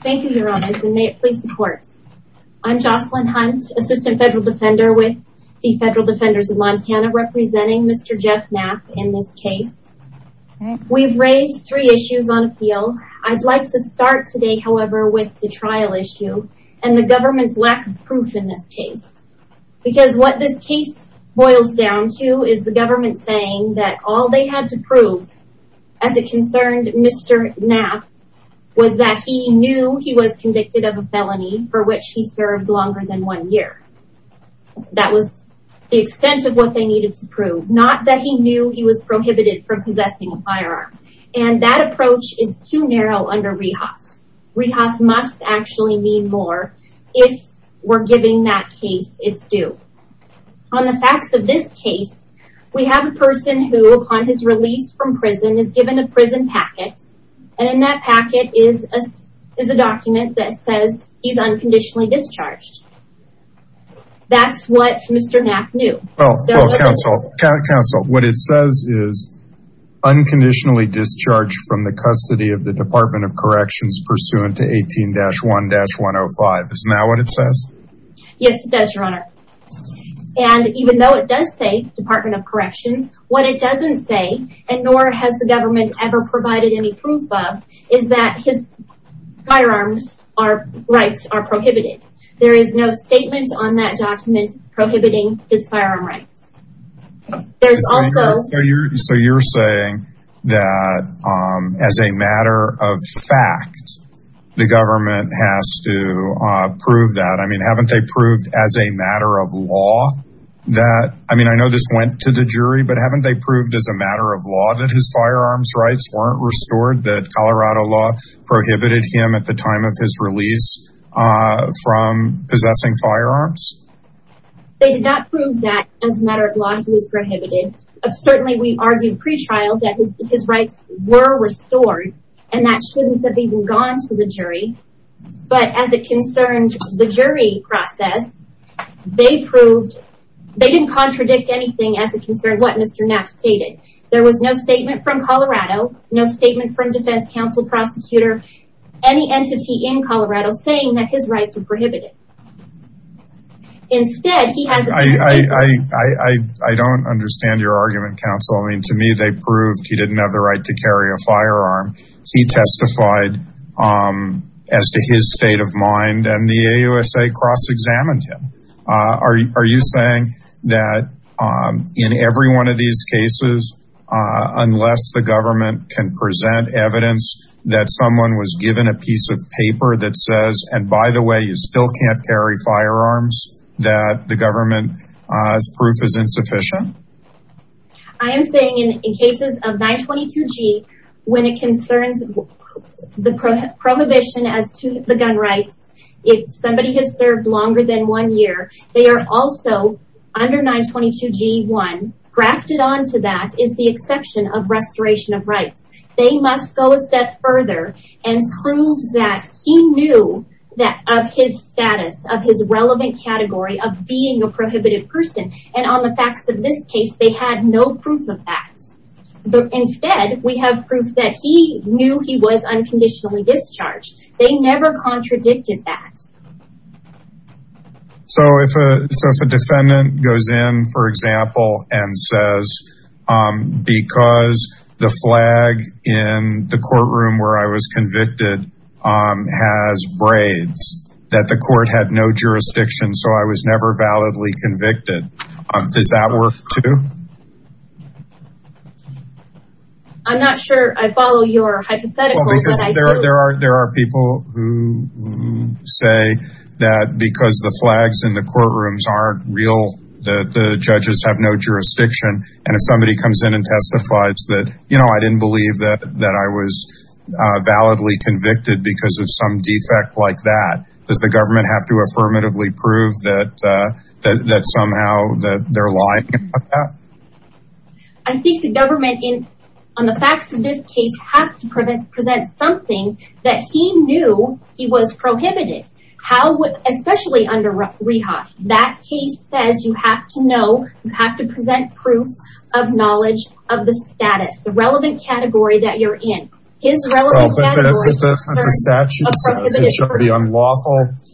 Thank you, Your Honor, and may it please the court. I'm Jocelyn Hunt, Assistant Federal Defender with the Federal Defenders of Montana, representing Mr. Jeff Knapp in this case. We've raised three issues on appeal. I'd like to start today, however, with the trial issue and the government's lack of proof in this case. Because what this case boils down to is the government saying that all they had to prove, as it concerned Mr. Knapp, was that he knew he was convicted of a felony for which he served longer than one year. That was the extent of what they needed to prove. Not that he knew he was prohibited from possessing a firearm. And that approach is too narrow under Rehoff. Rehoff must actually mean more if we're giving that case its due. On the facts of this case, we have a person who, upon his release from prison, is given a prison packet. And in that packet is a document that says he's unconditionally discharged. That's what Mr. Knapp knew. Well, counsel, counsel, what it says is, unconditionally discharged from the custody of the Is that what it says? Yes, it does, your honor. And even though it does say Department of Corrections, what it doesn't say, and nor has the government ever provided any proof of, is that his firearms rights are prohibited. There is no statement on that document prohibiting his firearm rights. So you're saying that, as a matter of fact, the government has to prove that? I mean, haven't they proved as a matter of law that, I mean, I know this went to the jury, but haven't they proved as a matter of law that his firearms rights weren't restored, that Colorado law prohibited him at the time of his release from possessing firearms? They did not prove that, as a matter of law, he was prohibited. Certainly, we argued pre-trial that his rights were restored, and that shouldn't have even gone to the jury. But as it concerned the jury process, they proved, they didn't contradict anything as it concerned what Mr. Knapp stated. There was no statement from Colorado, no statement from defense counsel prosecutor, any entity in Colorado saying that his rights were prohibited. Instead, he has... I don't understand your argument, counsel. I mean, to me, they proved he didn't have the right to carry a firearm. He testified as to his state of mind, and the AUSA cross-examined him. Are you saying that in every one of these cases, unless the government can present evidence that someone was given a piece of paper that says, and by the way, you still can't carry firearms, that the government's proof is insufficient? I am saying in cases of 922G, when it concerns the prohibition as to the gun rights, if somebody has served longer than one year, they are also, under 922G1, grafted onto that is the exception of restoration of rights. They must go a step further and prove that he knew of his status, of his relevant category, of being a prohibited person. And on the facts of this case, they had no proof of that. Instead, we have proof that he knew he was unconditionally discharged. They never contradicted that. So if a defendant goes in, for example, and says, because the flag in the courtroom where I was convicted has braids, that the court had no jurisdiction, so I was never validly convicted. Is that worth two? I'm not sure I follow your hypothetical. There are people who say that because the flags in the courtrooms aren't real, that the judges have no jurisdiction. And if somebody comes in and testifies that, you know, I didn't believe that I was validly convicted because of some defect like that, does the government have to affirmatively prove that somehow that they're lying about that? I think the government, on the facts of this case, have to present something that he knew he was prohibited. How, especially under Rehoff, that case says you have to know, you have to present proof of knowledge of the status, the relevant category that you're in. The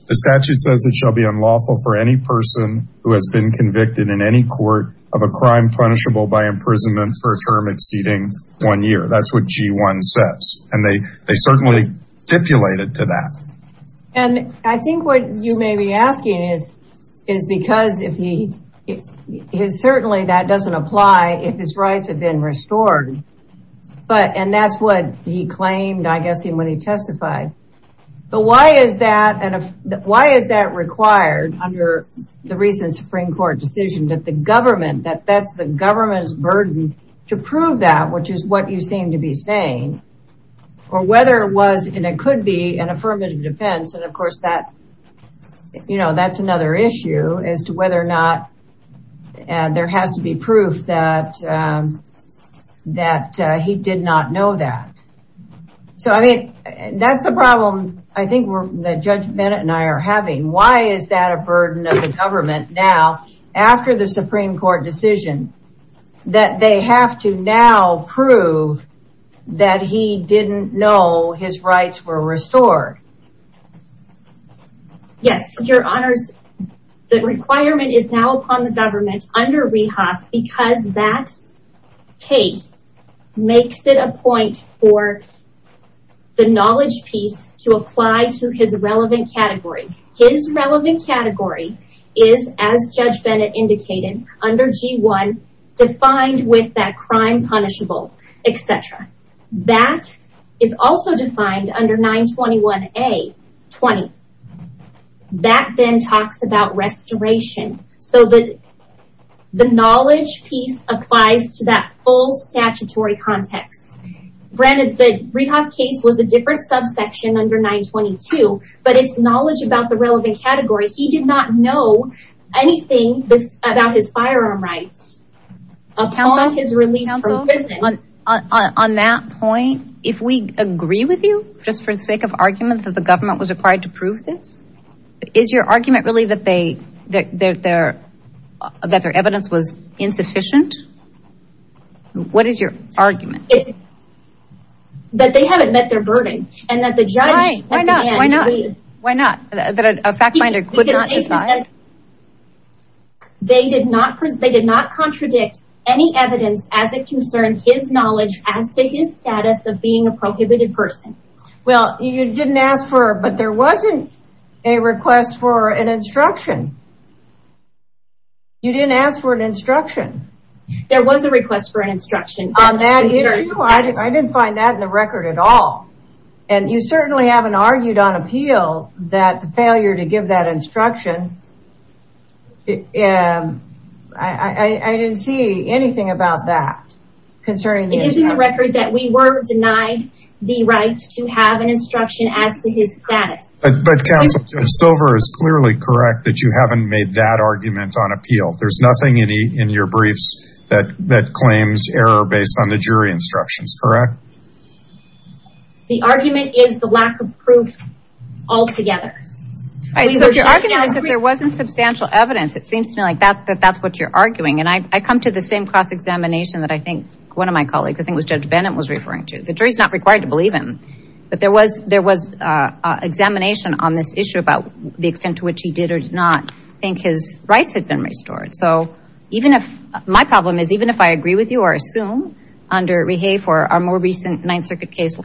statute says it shall be unlawful for any person who has been convicted in any court of a crime punishable by imprisonment for a term exceeding one year. That's what G1 says. And they certainly stipulated to that. And I think what you may be asking is, is because if he is certainly that doesn't apply if his rights have been restored. But and that's what he claimed, I guess, when he testified. But why is that? And why is that required under the recent Supreme Court decision that the government that that's the government's burden to prove that, which is what you seem to be saying, or whether it was and it could be an affirmative defense. And of course, that, you know, that's another issue as to whether or not there has to be proof that that he did not know that. So I mean, that's the problem. I think we're the judge Bennett and I are having why is that a burden of the government now, after the Supreme Court decision that they have to now prove that he didn't know his rights were restored? Yes, your honors. The requirement is now upon the government under rehab because that case makes it a point for the knowledge piece to apply to his relevant category. His relevant category is as Judge Bennett indicated under G1, defined with that crime punishable, etc. That is also defined under 921. A 20. That then talks about restoration. So that the knowledge piece applies to that full statutory context. Granted, the rehab case was a different subsection under 922. But it's knowledge about the relevant category. He did not know anything about his firearm rights upon his release from prison. On that point, if we agree with you, just for the sake of argument that the government was required to prove this, is your argument really that their evidence was insufficient? What is your argument? That they haven't met their burden and that the judge Why not? That a fact finder could not decide? They did not contradict any evidence as it concerned his knowledge as to his status of being a prohibited person. Well, you didn't ask for, but there wasn't a request for an instruction. You didn't ask for an instruction. There was a request for an instruction on that issue. I didn't find that in the record at all. And you certainly haven't argued on appeal that the failure to give that instruction. I didn't see anything about that. It is in the record that we were denied the right to have an instruction as to his status. But counsel, Silver is clearly correct that you haven't made that argument on appeal. There's correct? The argument is the lack of proof altogether. There wasn't substantial evidence. It seems to me like that's what you're arguing. And I come to the same cross-examination that I think one of my colleagues, I think it was Judge Bennett was referring to. The jury's not required to believe him. But there was examination on this issue about the extent to which he did or did not think his rights had been restored. So even if I agree with you or assume under our more recent Ninth Circuit case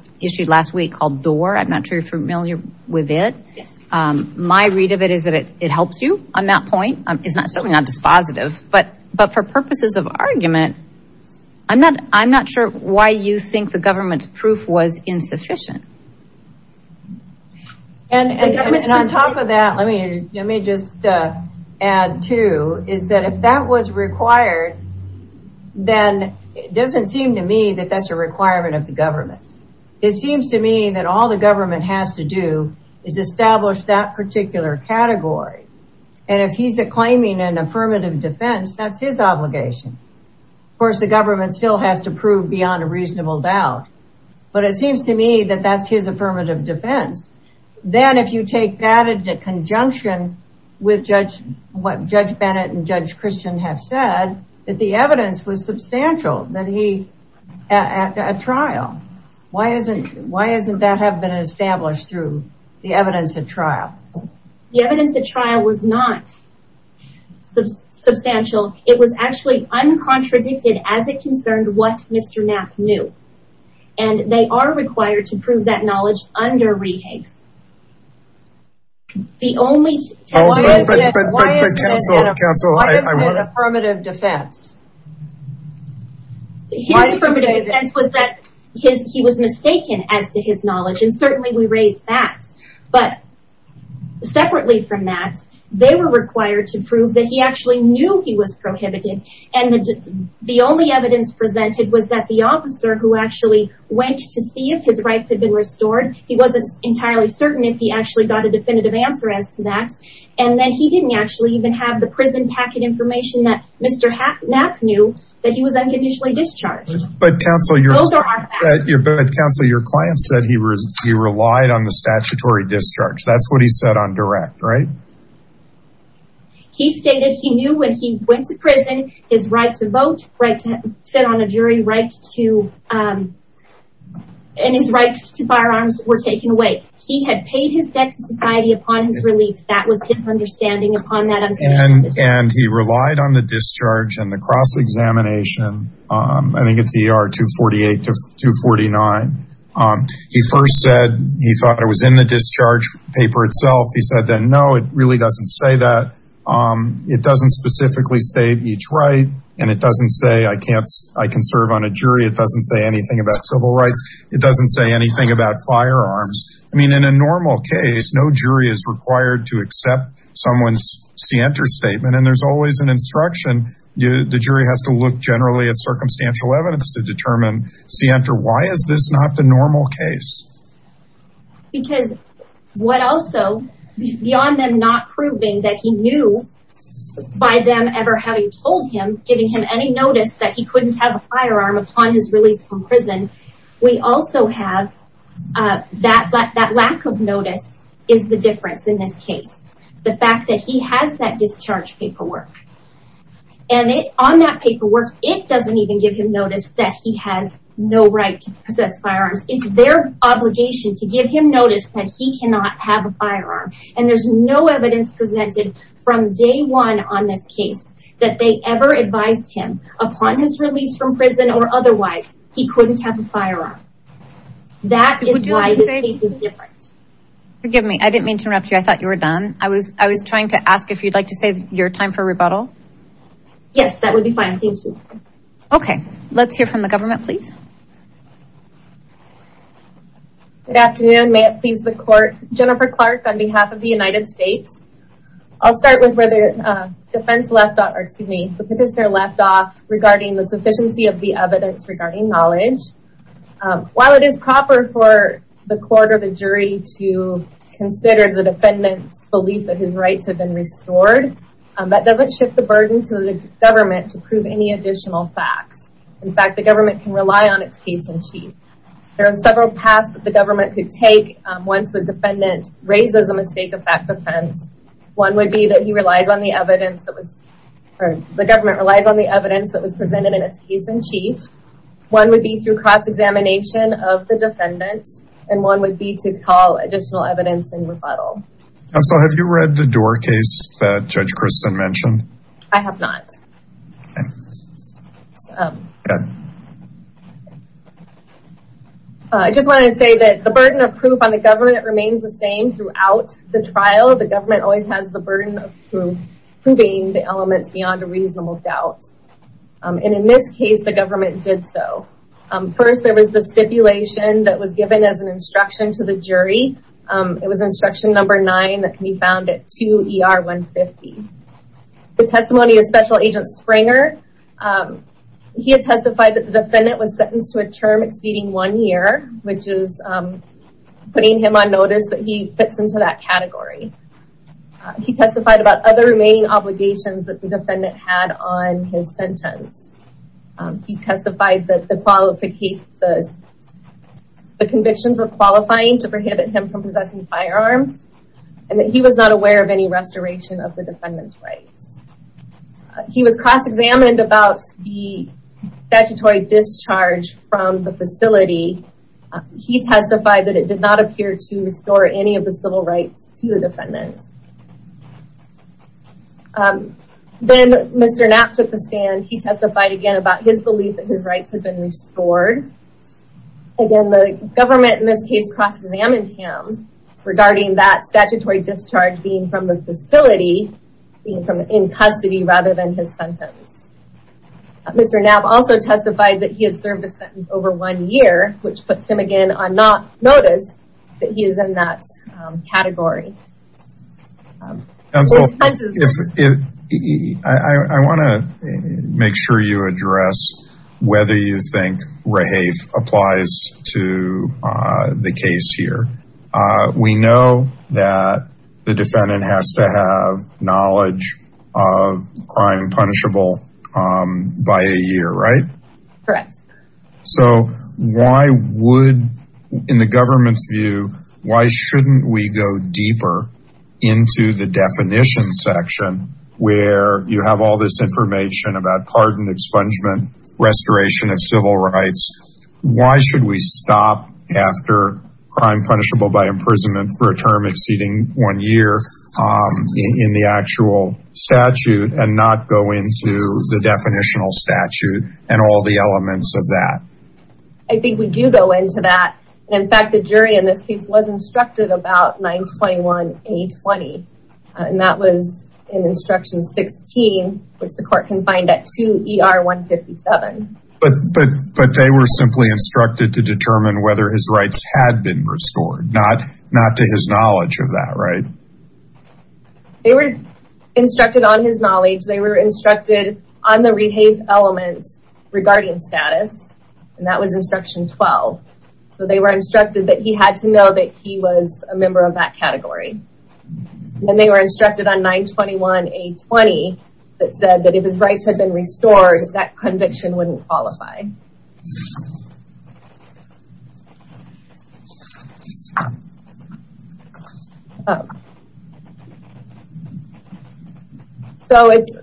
last week, I'm not sure you're familiar with it. My read of it is that it helps you on that point. It's not dispositive. But for purposes of argument, I'm not sure why you think the government's proof was insufficient. And on top of that, let me just add too, is that if that was required, then it doesn't seem to me that that's a requirement of the government. It seems to me that all the government has to do is establish that particular category. And if he's claiming an affirmative defense, that's his obligation. Of course, the government still has to prove beyond reasonable doubt. But it seems to me that that's his affirmative defense. Then if you take that into conjunction with what Judge Bennett and Judge Christian have said, that the evidence was substantial that he at a trial. Why isn't that have been established through the evidence at trial? The evidence at trial was not substantial. It was actually uncontradicted as it concerned what Mr. Knapp knew. And they are required to prove that knowledge under re-hate. The only test... But why is it an affirmative defense? His affirmative defense was that he was mistaken as to his knowledge. And certainly we raise that. But separately from that, they were required to prove that he actually knew he was prohibited. And the only evidence presented was that the officer who actually went to see if his rights had been restored. He wasn't entirely certain if he actually got a definitive answer as to that. And then he didn't actually even have the prison packet information that Mr. Knapp knew that he was unconditionally discharged. But counsel, your client said he relied on the statutory discharge. That's what he said on direct, right? He stated he knew when he went to prison, his right to vote, right to sit on a jury, right to... And his right to firearms were taken away. He had paid his debt to society upon his relief. That was his understanding upon that. And he relied on the discharge and the cross-examination. I think it's ER 248 to 249. He first said he thought it was in the discharge paper itself. He said that, no, it really doesn't say that. It doesn't specifically state each right. And it doesn't say I can serve on a jury. It doesn't say anything about civil rights. It doesn't say anything about firearms. I mean, in a normal case, no jury is required to accept someone's scienter statement. And there's always an instruction. The jury has to look generally at circumstantial evidence to determine scienter. Why is this not the normal case? Because what also, beyond them not proving that he knew by them ever having told him, giving him any notice that he couldn't have a firearm upon his release from prison, we also have that lack of notice is the difference in this case. The fact that he has that discharge paperwork. And on that paperwork, it doesn't even give him notice that he has no right to possess firearms. It's their obligation to give him notice that he cannot have a firearm. And there's no evidence presented from day one on this case that they ever advised him upon his release from prison or otherwise, he couldn't have a firearm. That is why this case is different. Forgive me. I didn't mean to interrupt you. I thought you were done. I was time for rebuttal. Yes, that would be fine. Thank you. Okay. Let's hear from the government, please. Good afternoon. May it please the court. Jennifer Clark on behalf of the United States. I'll start with where the defense left off, or excuse me, the petitioner left off regarding the sufficiency of the evidence regarding knowledge. While it is proper for the court or jury to consider the defendant's belief that his rights have been restored, that doesn't shift the burden to the government to prove any additional facts. In fact, the government can rely on its case-in-chief. There are several paths that the government could take once the defendant raises a mistake of that defense. One would be that he relies on the evidence that was or the government relies on the evidence that was presented in its case-in-chief. One would be through cross examination of the defendant, and one would be to call additional evidence in rebuttal. Counsel, have you read the door case that Judge Kristen mentioned? I have not. I just want to say that the burden of proof on the government remains the same throughout the trial. The government always has the burden of proving the elements beyond a reasonable doubt. And in this case, the government did so. First, there was the stipulation that was given as an instruction to the jury. It was instruction number nine that can be found at 2 ER 150. The testimony of Special Agent Springer, he had testified that the defendant was sentenced to a term exceeding one year, which is putting him on notice that he fits into that category. He testified about other remaining obligations that the defendant had on his sentence. He testified that the qualifications, the convictions were qualifying to prohibit him from possessing firearms, and that he was not aware of any restoration of the defendant's rights. He was cross-examined about the statutory discharge from the facility. He testified that it did not appear to restore any of the civil rights to the defendant. Then Mr. Knapp took the stand. He testified again about his belief that his rights have been restored. Again, the government in this case cross-examined him regarding that statutory discharge being from the facility, being from in custody rather than his sentence. Mr. Knapp also testified that he had served a sentence over one year, which puts him again on not notice that he is in that category. I want to make sure you address whether you think REHAFE applies to the case here. We know that the defendant has to have knowledge of crime punishable by a year, right? Correct. So why would, in the government's view, why shouldn't we go deeper into the definition section where you have all this information about pardon, expungement, restoration of civil rights. Why should we stop after crime punishable by imprisonment for a term exceeding one year in the actual statute and not go into the definitional statute and all the elements of that? I think we do go into that. In fact, the jury in this case was instructed about 921-A20, and that was in instruction 16, which the court can find at 2ER-157. But they were simply instructed to determine whether his rights had been restored, not to his knowledge of that, right? They were instructed on his knowledge. They were instructed on the REHAFE element regarding status, and that was instruction 12. So they were instructed that he had to know that he was a member of that category. And they were instructed on 921-A20 that said that if his rights had been restored, that conviction wouldn't qualify. So it's,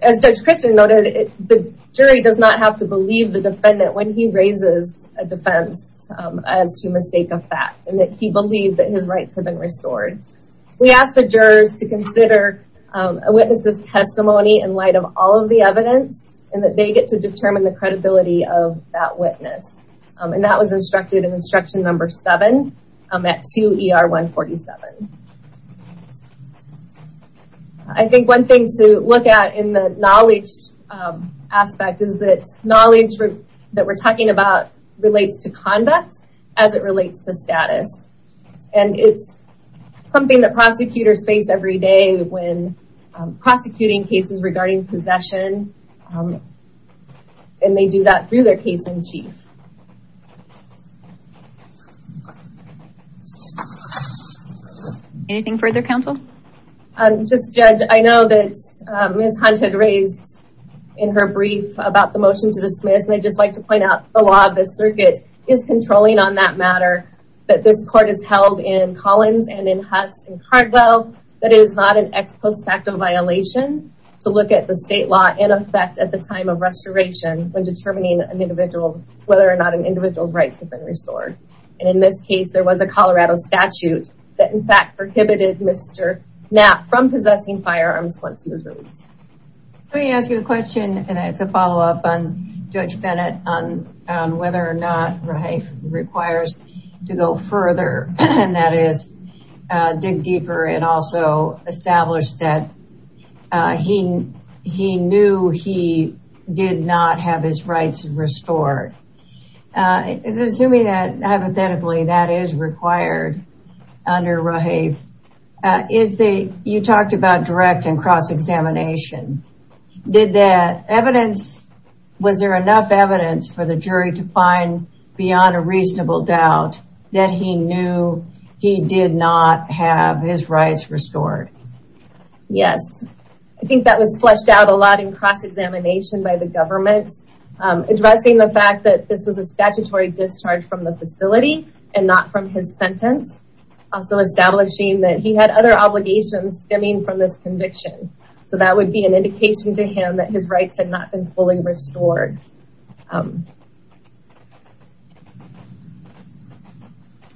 as Judge Christian noted, the jury does not have to believe the defendant when he raises a defense as to mistake a fact and that he believed that his rights had been restored. We ask the jurors to consider a witness's testimony in light of all of the evidence and that they get to determine the credibility of that witness. And that was instructed in instruction number 7 at 2ER-147. I think one thing to look at in the knowledge aspect is that knowledge that we're talking about relates to conduct as it relates to status. And it's something that prosecutors face every day when prosecuting cases regarding possession. And they do that through their case in chief. Anything further, counsel? Just, Judge, I know that Ms. Hunt had raised in her brief about the motion to dismiss, and I'd just like to point out the law of the circuit is controlling on that matter, that this court is held in Collins and in Huss and Cardwell, that it is not an ex post facto violation to look at the state law in effect at the time of restoration when determining whether or not an individual's rights have been restored. And in this case, there was a Colorado statute that, in fact, prohibited Mr. Knapp from possessing firearms once he was released. Let me ask you a question, and it's a follow up on Judge Bennett, on whether or not Raheif requires to go further, and that is dig deeper and also establish that he knew he did not have his rights restored. Assuming that, hypothetically, that is required under Raheif, you talked about direct and cross-examination. Did the evidence, was there enough evidence for the jury to find beyond a reasonable doubt that he knew he did not have his rights restored? Yes. I think that was fleshed out a lot in cross-examination by the government, addressing the fact that this was a statutory discharge from the facility and not from his sentence, also establishing that he had other obligations stemming from this conviction. So that would be an indication to him that his rights had not been fully restored.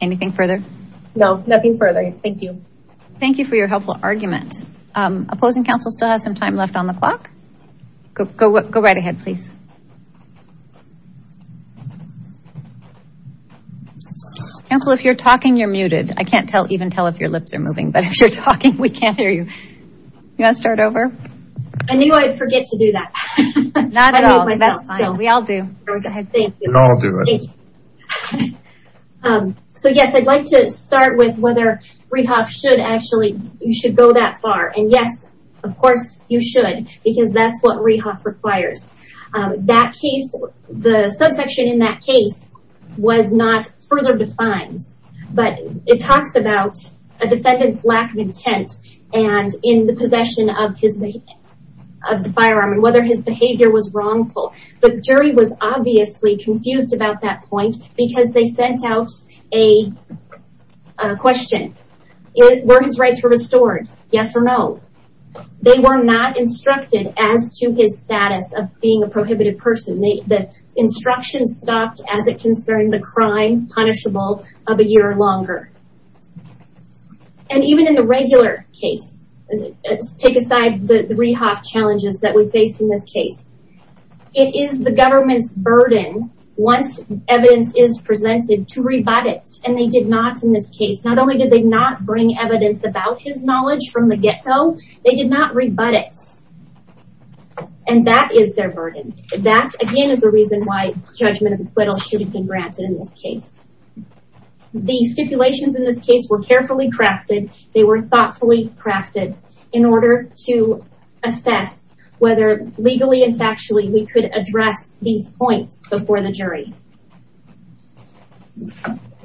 Anything further? No, nothing further. Thank you. Thank you for your helpful argument. Opposing counsel still has some time left on the clock. Go right ahead, please. Counsel, if you're talking, you're muted. I can't even tell if your lips are moving, but if you're talking, we can't hear you. You want to start over? I knew I'd forget to do that. Not at all. We all do. So, yes, I'd like to start with whether Raheif should actually, you should go that far. And, yes, of course, you should, because that's what Raheif requires. That case, the subsection in that case was not further defined, but it talks about a defendant's lack of intent and in the possession of the firearm and whether his behavior was wrongful. The jury was obviously confused about that point because they sent out a question. Were his rights restored? Yes or no. They were not instructed as to his status of being a prohibited person. The instructions stopped as it concerned the crime punishable of a year or longer. And even in the regular case, let's take aside the Rehoff challenges that we face in this case. It is the government's burden, once evidence is presented, to rebut it, and they did not in this case. Not only did they not bring evidence about his knowledge from the get-go, they did not rebut it. And that is their burden. That, again, is the reason why judgment should have been granted in this case. The stipulations in this case were carefully crafted. They were thoughtfully crafted in order to assess whether, legally and factually, we could address these points before the jury.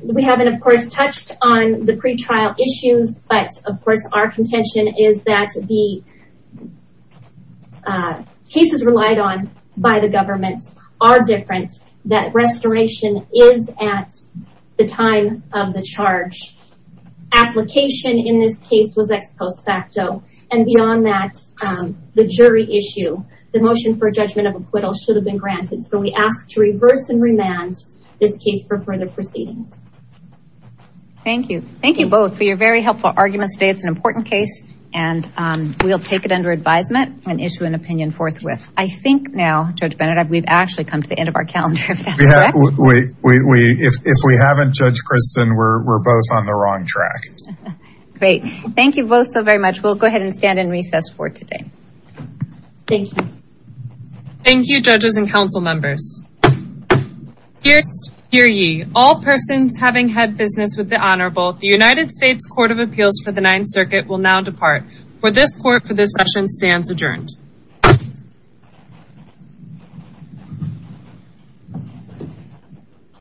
We haven't, of course, touched on the pretrial issues, but, of course, our contention is that the cases relied on by the government are different, that restoration is at the time of the charge. Application in this case was ex post facto, and beyond that, the jury issue, the motion for judgment of acquittal should have been granted. So we ask to reverse and remand this case for further proceedings. Thank you. Thank you both for your very helpful arguments today. It's an important case, and we'll take it under advisement and issue an opinion forthwith. I think now, Judge Benedek, we've actually come to the end of our calendar. If we haven't, Judge Christin, we're both on the wrong track. Great. Thank you both so very much. We'll go ahead and stand in recess for today. Thank you. Thank you, judges and council members. Dear ye, all persons having had business with the Honorable, the United States Court of Appeals for the Ninth Circuit will now depart. For this court, for this session stands adjourned.